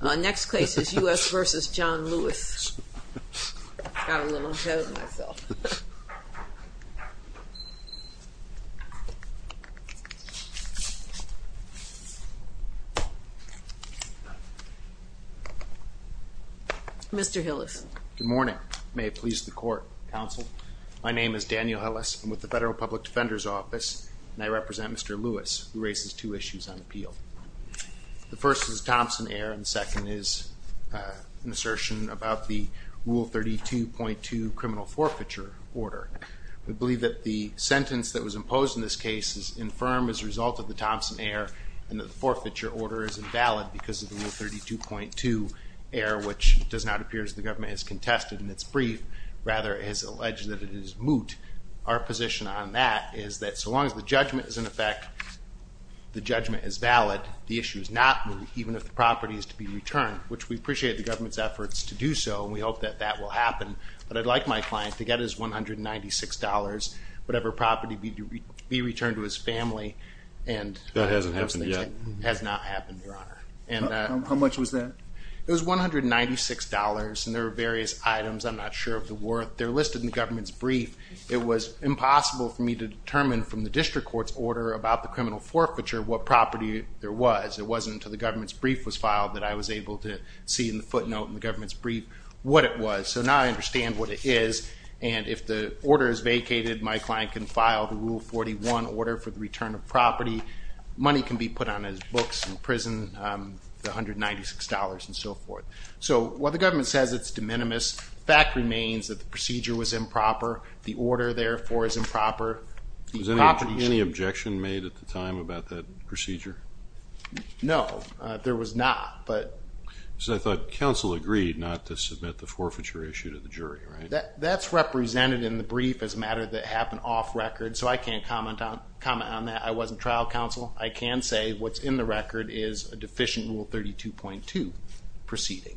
Our next case is U.S. v. John Lewis, got a little ahead of myself, Mr. Hillis. Good morning, may it please the court, counsel. My name is Daniel Hillis, I'm with the Federal Public Defender's Office and I represent Mr. Lewis who raises two concerns about the Thompson-Ayer and the second is an assertion about the Rule 32.2 criminal forfeiture order. We believe that the sentence that was imposed in this case is infirm as a result of the Thompson-Ayer and that the forfeiture order is invalid because of the Rule 32.2 error which does not appear as the government has contested in its brief, rather it has alleged that it is moot. Our position on that is that so long as the judgment is in effect, the judgment is valid, the issue is not moot, even if the property is to be returned, which we appreciate the government's efforts to do so and we hope that that will happen, but I'd like my client to get his $196, whatever property be returned to his family, and that hasn't happened yet, has not happened, Your Honor. And how much was that? It was $196 and there were various items, I'm not sure of the worth, they're listed in the government's brief. It was impossible for me to determine from the property there was. It wasn't until the government's brief was filed that I was able to see in the footnote in the government's brief what it was. So now I understand what it is and if the order is vacated, my client can file the Rule 41 order for the return of property. Money can be put on his books in prison, the $196 and so forth. So while the government says it's de minimis, fact remains that the procedure was improper, the order therefore is improper. Was there any objection made at the time about that procedure? No, there was not. So I thought counsel agreed not to submit the forfeiture issue to the jury, right? That's represented in the brief as a matter that happened off-record, so I can't comment on that. I wasn't trial counsel. I can say what's in the record is a deficient Rule 32.2 proceeding.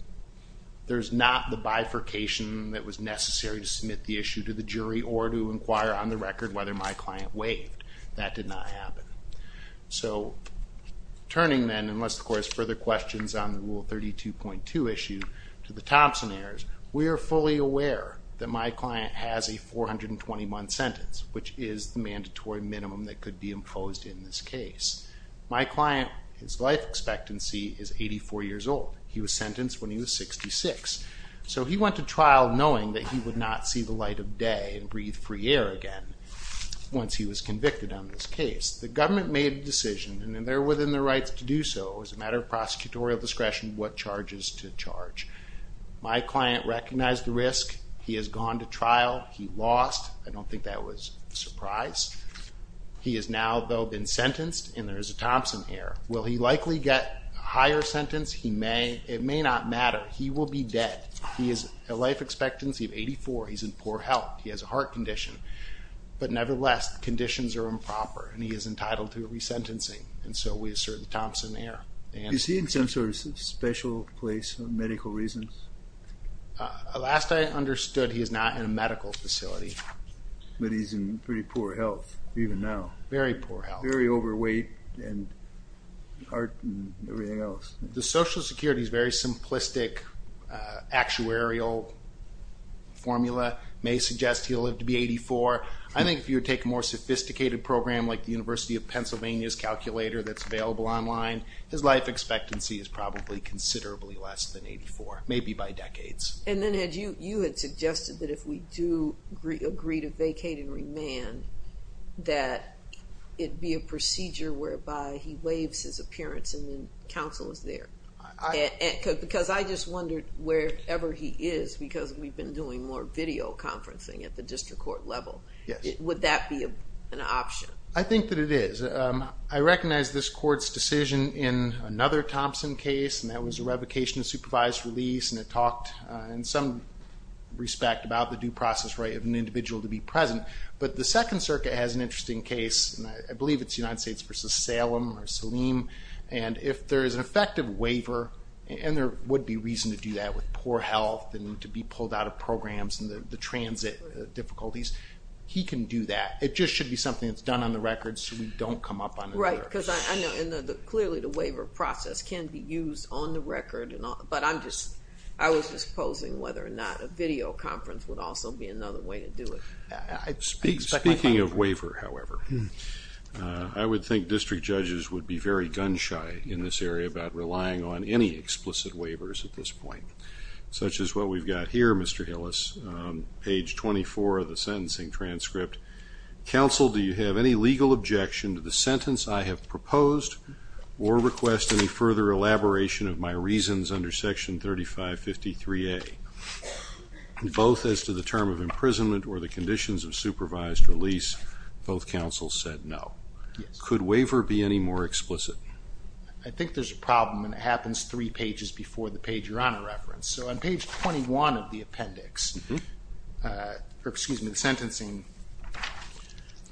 There's not the bifurcation that was necessary to submit the issue to the jury or to inquire on the record whether my client waived. That did not happen. So turning then, unless of course further questions on the Rule 32.2 issue to the Thompson heirs, we are fully aware that my client has a 421 sentence, which is the mandatory minimum that could be imposed in this case. My client, his life expectancy is 84 years old. He was sentenced when he was 66. So he went to trial knowing that he would not see the light of day and breathe free air again once he was convicted on this case. The government made a decision, and they're within the rights to do so as a matter of prosecutorial discretion what charges to charge. My client recognized the risk. He has gone to trial. He lost. I don't think that was a surprise. He has now though been sentenced, and there is a Thompson heir. Will he likely get higher sentence? He may. It may not matter. He will be dead. He has a life expectancy of poor health. He has a heart condition, but nevertheless conditions are improper, and he is entitled to a resentencing, and so we assert the Thompson heir. Is he in some sort of special place for medical reasons? Last I understood, he is not in a medical facility. But he's in pretty poor health even now. Very poor health. Very overweight and heart and everything else. The Social Security is very simplistic actuarial formula may suggest he'll live to be 84. I think if you take a more sophisticated program like the University of Pennsylvania's calculator that's available online, his life expectancy is probably considerably less than 84, maybe by decades. And then you had suggested that if we do agree to vacate and remand, that it be a procedure whereby he waives his Because I just wondered wherever he is, because we've been doing more video conferencing at the district court level, would that be an option? I think that it is. I recognize this court's decision in another Thompson case, and that was a revocation of supervised release, and it talked in some respect about the due process right of an individual to be present. But the Second Circuit has an interesting case, and I believe it's United States v. Salem or Saleem, and if there is an effective waiver, and there would be reason to do that with poor health and to be pulled out of programs and the transit difficulties, he can do that. It just should be something that's done on the record so we don't come up on it. Right, because I know, and clearly the waiver process can be used on the record and all, but I'm just, I was just posing whether or not a video conference would also be another way to do it. Speaking of waiver, however, I would think district judges would be very gun-shy in this area about relying on any explicit waivers at this point, such as what we've got here, Mr. Hillis, page 24 of the sentencing transcript. Counsel, do you have any legal objection to the sentence I have proposed or request any further elaboration of my reasons under section 3553A, both as to the term of imprisonment or the conditions of the waiver be any more explicit? I think there's a problem and it happens three pages before the page Your Honor referenced. So on page 21 of the appendix, excuse me, the sentencing.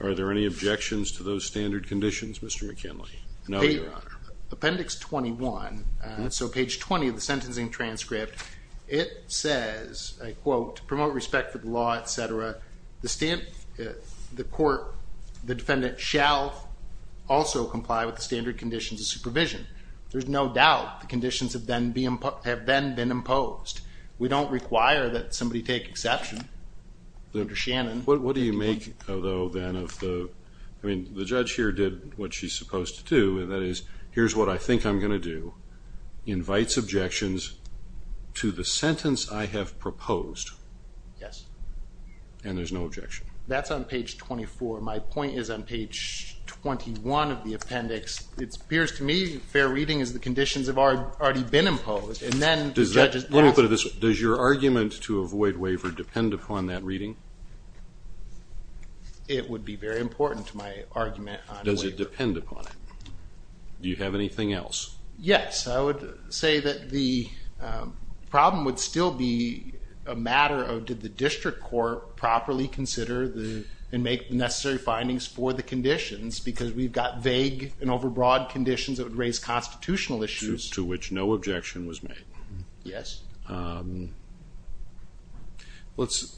Are there any objections to those standard conditions, Mr. McKinley? No, Your Honor. Appendix 21, so page 20 of the sentencing transcript, it says, I quote, to promote respect for the law, etc., the court, the defendant, shall also comply with the standard conditions of supervision. There's no doubt the conditions have then been imposed. We don't require that somebody take exception, under Shannon. What do you make, though, then of the, I mean, the judge here did what she's supposed to do, and that is, here's what I think I'm going to do, invites objections to the four. My point is, on page 21 of the appendix, it appears to me fair reading is the conditions have already been imposed, and then the judge... Let me put it this way. Does your argument to avoid waiver depend upon that reading? It would be very important to my argument. Does it depend upon it? Do you have anything else? Yes, I would say that the problem would still be a matter of, did the district court properly consider and make the necessary findings for the conditions, because we've got vague and overbroad conditions that would raise constitutional issues. To which no objection was made. Yes. Let's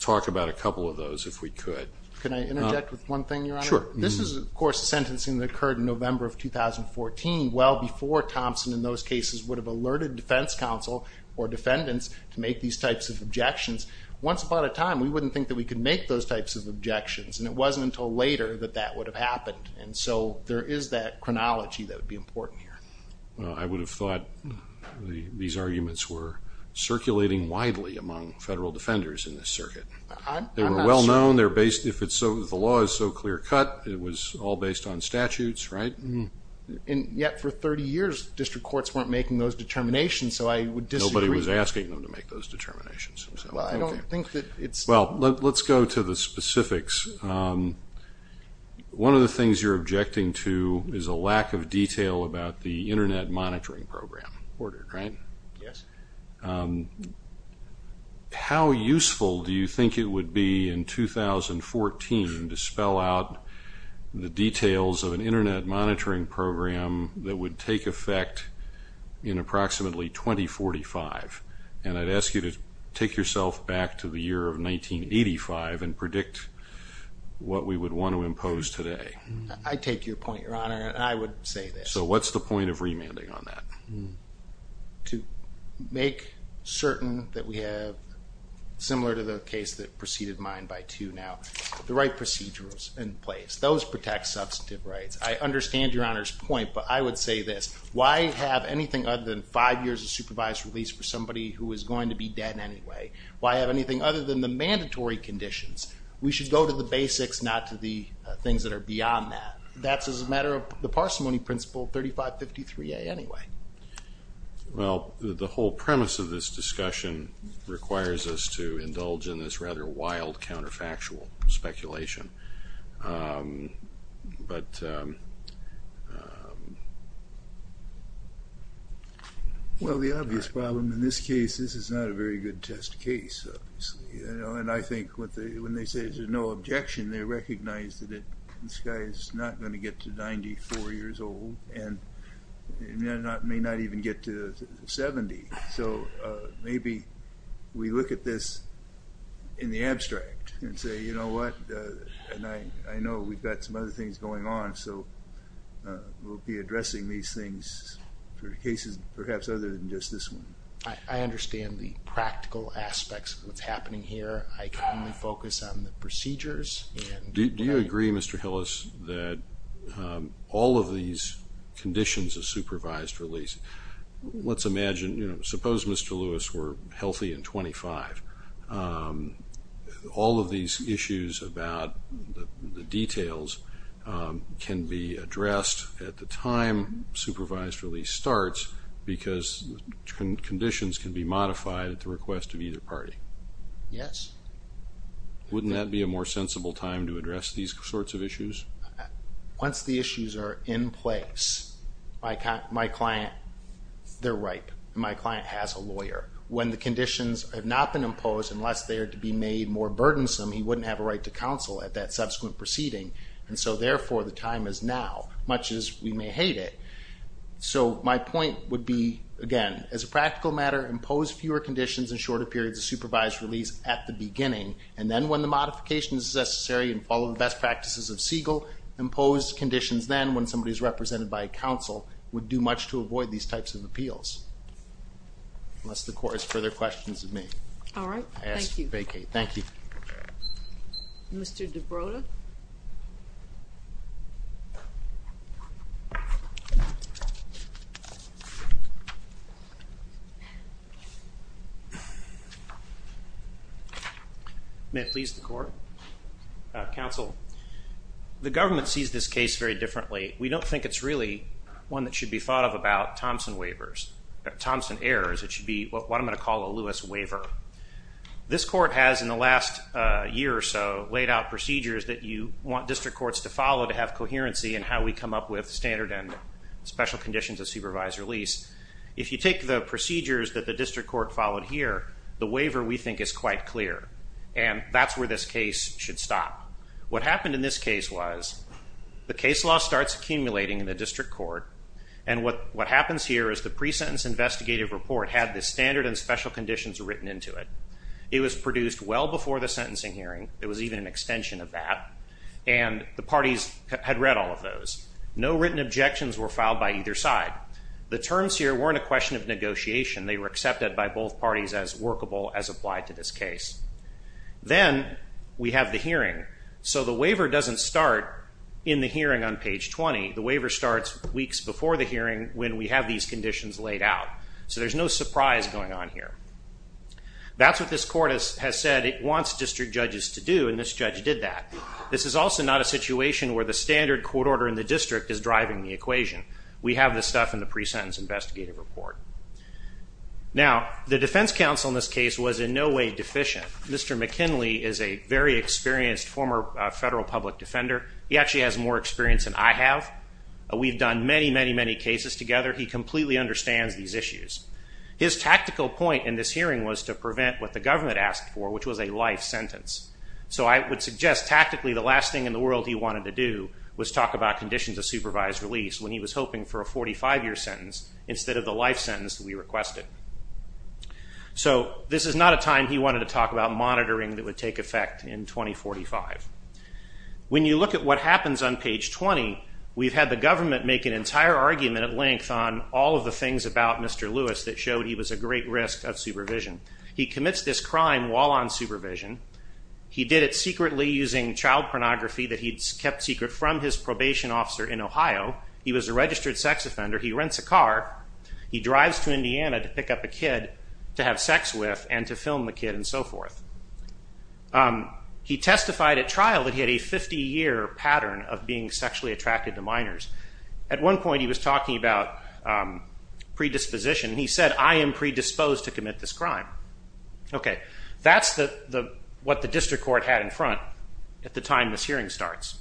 talk about a couple of those, if we could. Can I interject with one thing, Your Honor? Sure. This is, of course, a sentencing that occurred in November of 2014, well before Thompson, in those cases, would have alerted defense counsel or defendants to make these types of objections. Once upon a time, we wouldn't think that we could make those types of objections, and it wasn't until later that that would have happened. And so, there is that chronology that would be important here. I would have thought these arguments were circulating widely among federal defenders in this circuit. They were well known, they're based, if it's so, the law is so clear-cut, it was all based on statutes, right? And yet, for 30 years, district courts weren't making those determinations, so I would disagree. Nobody was asking them to make those determinations. Well, I don't think that it's... Well, let's go to the specifics. One of the things you're objecting to is a lack of detail about the Internet Monitoring Program order, right? Yes. How useful do you think it would be in 2014 to spell out the details of an Internet Monitoring Program that would take effect in approximately 2045? And I'd ask you to take yourself back to the year of 1985 and predict what we would want to impose today. I take your point, Your Honor, and I would say this. So, what's the point of remanding on that? To make certain that we have, similar to the case that preceded mine by two now, the right procedures in place. Those protect substantive rights. I understand Your Honor's point, but I would say this. Why have anything other than five years of supervised release for somebody who is going to be dead anyway? Why have anything other than the mandatory conditions? We should go to the basics, not to the things that are beyond that. That's as a matter of the parsimony principle 3553A anyway. Well, the whole premise of this discussion requires us to indulge in this rather wild counterfactual speculation. Well, the obvious problem in this case, this is not a very good test case, obviously. And I think when they say there's no objection, they recognize that this guy is not going to get to 94 years old, and may not even get to 70. So, maybe we look at this in the abstract and say, you know what, and I know we've got some other things going on, so we'll be addressing these things for cases perhaps other than just this one. I understand the practical aspects of what's happening here. I can only focus on the procedures. Do you agree, Mr. Hillis, that all of these conditions of supervised release, let's imagine, you know, suppose Mr. Lewis were healthy and 25. All of these issues about the details can be addressed at the time supervised release starts, because conditions can be modified at the request of either party. Yes. Wouldn't that be a more sensible time to address these sorts of issues? Once the issues are in place, my client, they're ripe. My client has a lawyer. When the conditions have not been imposed, unless they are to be made more burdensome, he wouldn't have a right to counsel at that subsequent proceeding. And so, therefore, the time is now, much as we may hate it. So, my point would be, again, as a practical matter, impose fewer conditions and shorter periods of supervised release at the beginning, and then when the modification is necessary and follow the best practices of Siegel, impose conditions then when somebody is represented by a counsel would do much to avoid these types of appeals. Unless the court has further questions of me. All right. Thank you. Thank you. Mr. DeBroda? May it please the Court? Counsel, the government sees this case very differently. We don't think it's really one that should be thought of about Thompson waivers, Thompson errors. It should be what I'm going to call a Lewis waiver. This court has, in the last year or so, laid out procedures that you want district courts to follow to have coherency in how we come up with standard and special conditions of supervised release. If you take the procedures that the district court followed here, the waiver, we think, is quite clear. And that's where this case should stop. What happened in this case was the case law starts accumulating in the district court, and what happens here is the written into it. It was produced well before the sentencing hearing. It was even an extension of that. And the parties had read all of those. No written objections were filed by either side. The terms here weren't a question of negotiation. They were accepted by both parties as workable as applied to this case. Then we have the hearing. So the waiver doesn't start in the hearing on page 20. The waiver starts weeks before the hearing when we have these That's what this court has said it wants district judges to do, and this judge did that. This is also not a situation where the standard court order in the district is driving the equation. We have this stuff in the pre-sentence investigative report. Now, the defense counsel in this case was in no way deficient. Mr. McKinley is a very experienced former federal public defender. He actually has more experience than I have. We've done many, many, many cases together. He completely understands these issues. His tactical point in this hearing was to prevent what the government asked for, which was a life sentence. So I would suggest tactically the last thing in the world he wanted to do was talk about conditions of supervised release when he was hoping for a 45-year sentence instead of the life sentence we requested. So this is not a time he wanted to talk about monitoring that would take effect in 2045. When you look at what happens on page 20, we've had the government make an entire argument at length on all of the things about Mr. Lewis that showed he was at great risk of supervision. He commits this crime while on supervision. He did it secretly using child pornography that he'd kept secret from his probation officer in Ohio. He was a registered sex offender. He rents a car. He drives to Indiana to pick up a kid to have sex with and to film the kid and so forth. He testified at trial that he had a 50-year pattern of being sexually attracted to minors. At one point he was talking about predisposition. He said, I am predisposed to commit this crime. Okay, that's what the district court had in front at the time this hearing starts.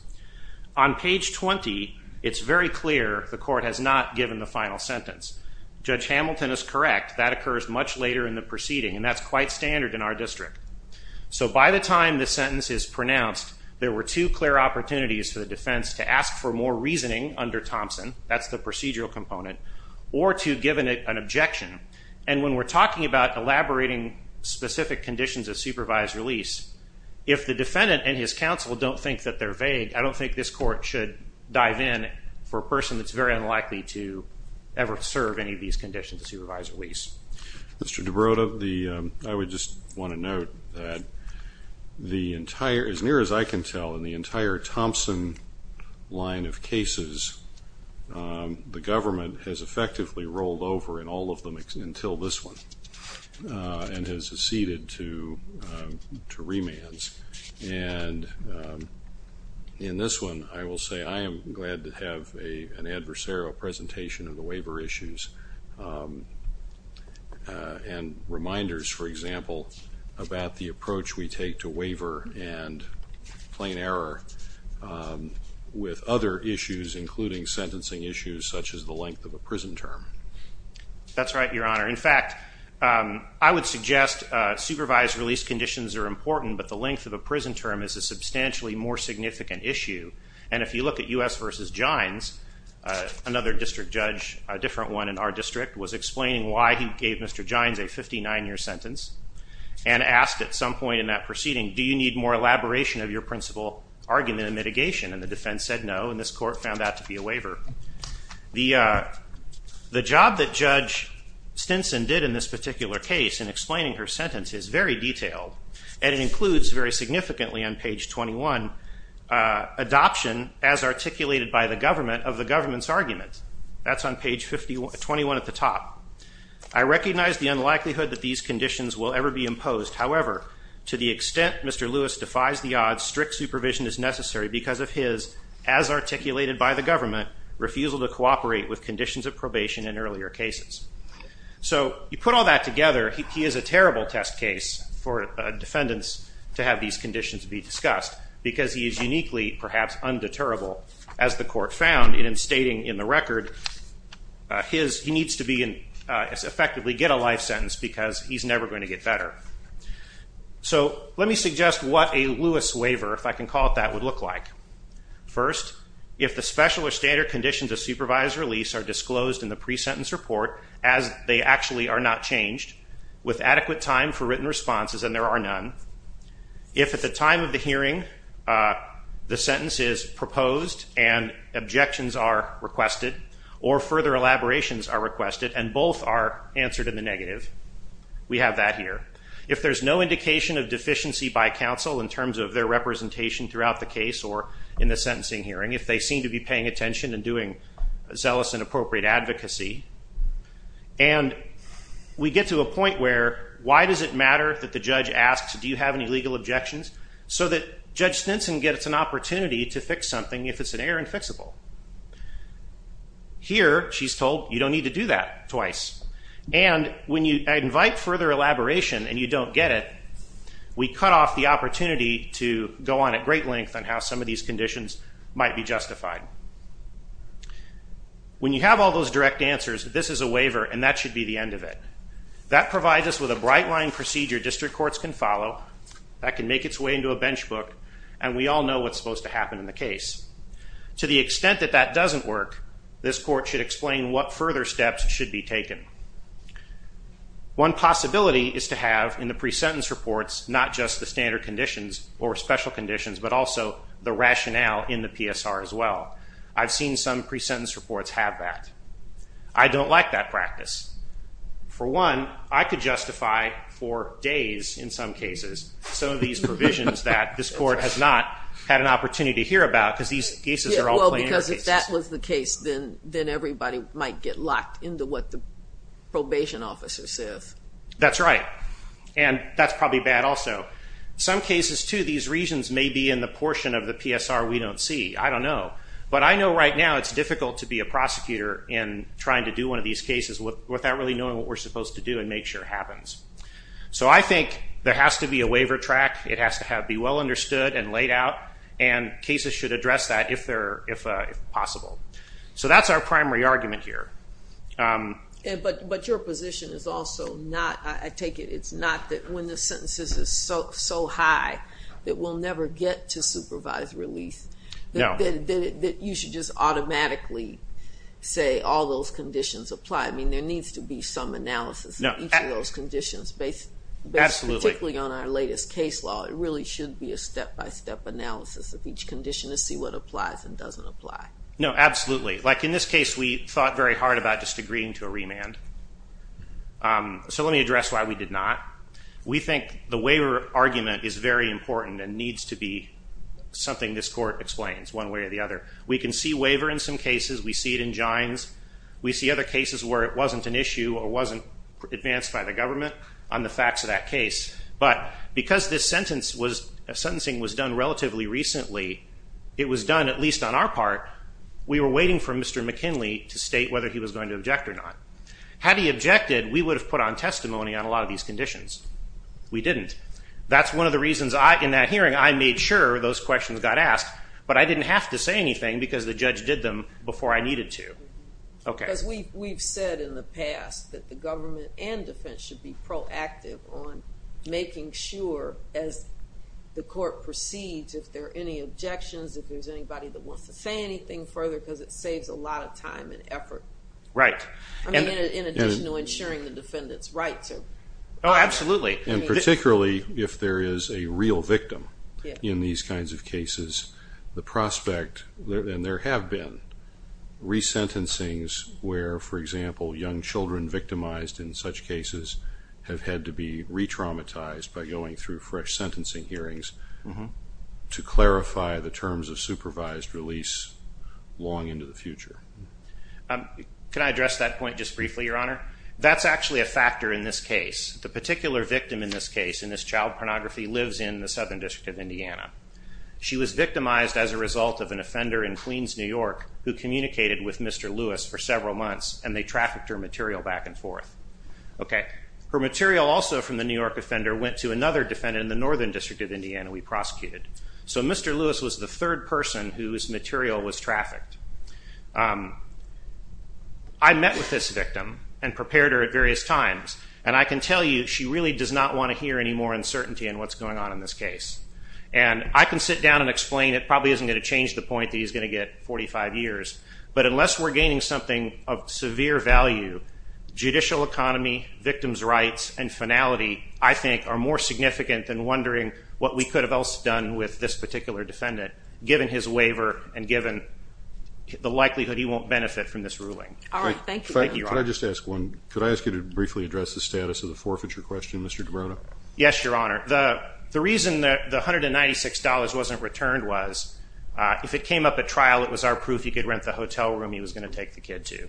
On page 20, it's very clear the court has not given the final sentence. Judge Hamilton is correct. That occurs much later in the proceeding and that's quite standard in our district. So by the time the sentence is pronounced, there were two clear opportunities for the defense to ask for more reasoning under Thompson, that's the procedural component, or to given it an objection. And when we're talking about elaborating specific conditions of supervised release, if the defendant and his counsel don't think that they're vague, I don't think this court should dive in for a person that's very unlikely to ever serve any of these conditions of supervised release. Mr. DeBroda, I would just want to note that the entire, as near as I can tell, in the has effectively rolled over in all of them until this one and has acceded to remands. And in this one, I will say I am glad to have an adversarial presentation of the waiver issues and reminders, for example, about the approach we take to waiver and plain error with other issues, including sentencing issues such as the length of a prison term. That's right, your honor. In fact, I would suggest supervised release conditions are important, but the length of a prison term is a substantially more significant issue. And if you look at U.S. versus Gines, another district judge, a different one in our district, was explaining why he gave Mr. Gines a 59-year sentence and asked at some point in that proceeding, do you need more elaboration of your principal argument and mitigation? And the defense said no, and this court found that to be a waiver. The job that Judge Stinson did in this particular case in explaining her sentence is very detailed, and it includes very significantly on page 21 adoption as articulated by the government of the government's argument. That's on page 21 at the top. I recognize the unlikelihood that these conditions will ever be imposed. However, to the extent Mr. Lewis defies the odds, strict supervision is necessary because of his, as articulated by the government, refusal to cooperate with conditions of probation in earlier cases. So you put all that together, he is a terrible test case for defendants to have these conditions be discussed because he is uniquely, perhaps undeterrable, as the court found in stating in the record, he needs to effectively get a life sentence because he's never going to get better. So let me suggest what a Lewis waiver, if I can call it that, would look like. First, if the special or standard conditions of supervised release are disclosed in the pre-sentence report as they actually are not changed, with adequate time for written responses and there are none, if at the time of the hearing the sentence is proposed and objections are requested or further elaborations are requested and both are answered in the negative, we have that here. If there's no indication of deficiency by counsel in terms of their representation throughout the case or in doing zealous and appropriate advocacy and we get to a point where why does it matter that the judge asks do you have any legal objections so that Judge Stinson gets an opportunity to fix something if it's an error and fixable. Here she's told you don't need to do that twice and when you invite further elaboration and you don't get it, we cut off the opportunity to go on at great lengths to see if these conditions might be justified. When you have all those direct answers, this is a waiver and that should be the end of it. That provides us with a bright line procedure district courts can follow that can make its way into a bench book and we all know what's supposed to happen in the case. To the extent that that doesn't work, this court should explain what further steps should be taken. One possibility is to have in the pre-sentence reports not just the standard conditions or special conditions but also the rationale in the PSR as well. I've seen some pre-sentence reports have that. I don't like that practice. For one, I could justify for days in some cases some of these provisions that this court has not had an opportunity to hear about because these cases are all planned. Because if that was the case then everybody might get locked into what the Some cases too, these reasons may be in the portion of the PSR we don't see. I don't know. But I know right now it's difficult to be a prosecutor in trying to do one of these cases without really knowing what we're supposed to do and make sure it happens. So I think there has to be a waiver track. It has to be well understood and laid out and cases should address that if possible. So that's our primary argument here. But your position is also not, I think, so high that we'll never get to supervised release. No. That you should just automatically say all those conditions apply. I mean there needs to be some analysis of each of those conditions based particularly on our latest case law. It really should be a step-by-step analysis of each condition to see what applies and doesn't apply. No, absolutely. Like in this case we thought very hard about just agreeing to a remand. So let me address why we did not. We think the waiver argument is very important and needs to be something this court explains one way or the other. We can see waiver in some cases. We see it in Gines. We see other cases where it wasn't an issue or wasn't advanced by the government on the facts of that case. But because this sentence was, sentencing was done relatively recently, it was done at least on our part. We were waiting for Mr. McKinley to state whether he was going to object or not. Had he objected we would have put on testimony on a lot of these conditions. We didn't. That's one of the reasons I, in that hearing, I made sure those questions got asked but I didn't have to say anything because the judge did them before I needed to. Okay. We've said in the past that the government and defense should be proactive on making sure as the court proceeds if there are any objections, if there's anybody that wants to say anything further because it saves a lot of time and effort. Right. In addition to ensuring the defendant's rights. Oh absolutely. And particularly if there is a real victim in these kinds of cases the prospect, and there have been, resentencings where, for example, young children victimized in such cases have had to be re-traumatized by going through fresh sentencing hearings to clarify the terms of supervised release long into the future. Can I address that point just briefly, Your Honor? That's actually a factor in this case. The particular victim in this case, in this child pornography, lives in the Southern District of Indiana. She was victimized as a result of an offender in Queens, New York, who communicated with Mr. Lewis for several months and they trafficked her material back and forth. Okay. Her material also from the New York offender went to another defendant in the Northern District of Indiana we prosecuted. So Mr. Lewis was the third person whose material was trafficked. I met with this victim and prepared her at various times and I can tell you she really does not want to hear any more uncertainty in what's going on in this case. And I can sit down and explain, it probably isn't going to change the point that he's going to get 45 years, but unless we're gaining something of severe value, judicial economy, victims rights, and finality, I think are more significant than wondering what we his waiver and given the likelihood he won't benefit from this ruling. All right. Thank you. Can I just ask one? Could I ask you to briefly address the status of the forfeiture question, Mr. DeBrona? Yes, Your Honor. The reason that the $196 wasn't returned was, if it came up at trial, it was our proof he could rent the hotel room he was going to take the kid to.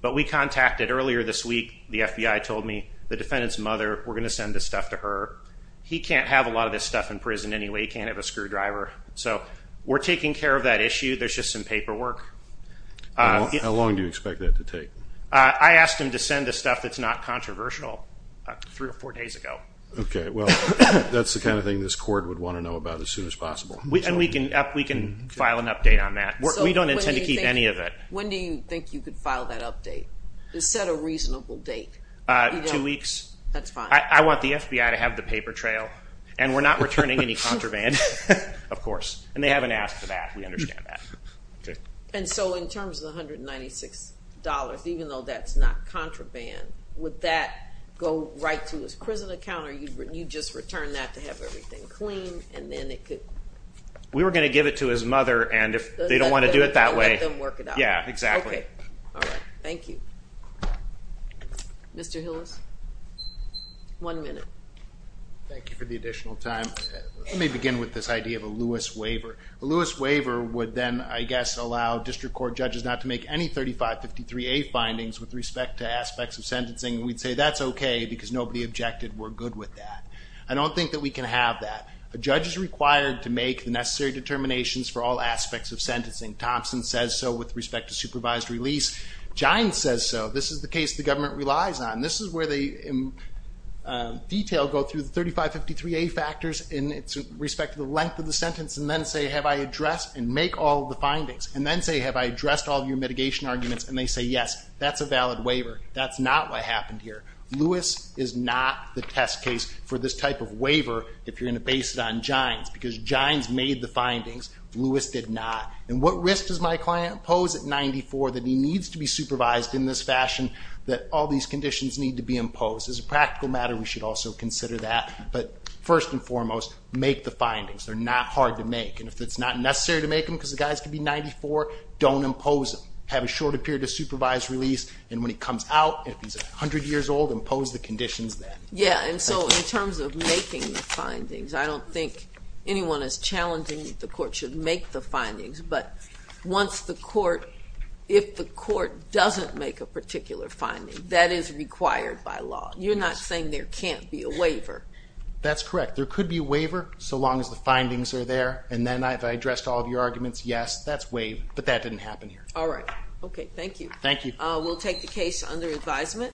But we contacted earlier this week, the FBI told me, the defendant's mother, we're going to send this stuff to her. He can't have a lot of this stuff in prison anyway. He can't have a lot of this stuff in prison anyway. So we're taking care of that issue. There's just some paperwork. How long do you expect that to take? I asked him to send the stuff that's not controversial three or four days ago. Okay, well, that's the kind of thing this court would want to know about as soon as possible. And we can file an update on that. We don't intend to keep any of it. When do you think you could file that update? Set a reasonable date. Two weeks. That's fine. I want the FBI to have the paper trail. And we're not returning any contraband, of course. We understand that. And so in terms of the $196, even though that's not contraband, would that go right to his prison account or you just return that to have everything clean and then it could... We were going to give it to his mother and if they don't want to do it that way... Let them work it out. Yeah, exactly. All right, thank you. Mr. Hillis, one minute. Thank you for the additional time. Let me begin with this idea of a Lewis waiver. A Lewis waiver would then, I guess, allow district court judges not to make any 3553A findings with respect to aspects of sentencing. We'd say that's okay because nobody objected. We're good with that. I don't think that we can have that. A judge is required to make the necessary determinations for all aspects of sentencing. Thompson says so with respect to supervised release. Giants says so. This is the case the government relies on. This is where they, in detail, go through the 3553A factors in respect to the length of the sentence and then say, have I addressed and make all the findings? And then say, have I addressed all your mitigation arguments? And they say, yes, that's a valid waiver. That's not what happened here. Lewis is not the test case for this type of waiver if you're going to base it on Giants because Giants made the findings. Lewis did not. And what risk does my client pose at 94 that he needs to be supervised in this fashion that all these conditions need to be imposed? As a practical matter, we should also consider that. But first and foremost, make the findings. They're not hard to make. And if it's not necessary to make them because the guys could be 94, don't impose them. Have a shorter period of supervised release. And when he comes out, if he's 100 years old, impose the conditions then. Yeah. And so in terms of making the findings, I don't think anyone is challenging that the court should make the findings. But once the court, if the court doesn't make a particular finding, that is required by law. You're not saying there can't be a waiver. That's correct. There could be a waiver so long as the findings are there. And then I've addressed all of your arguments. Yes, that's waived. But that didn't happen here. All right. Okay. Thank you. Thank you. We'll take the case under advisement.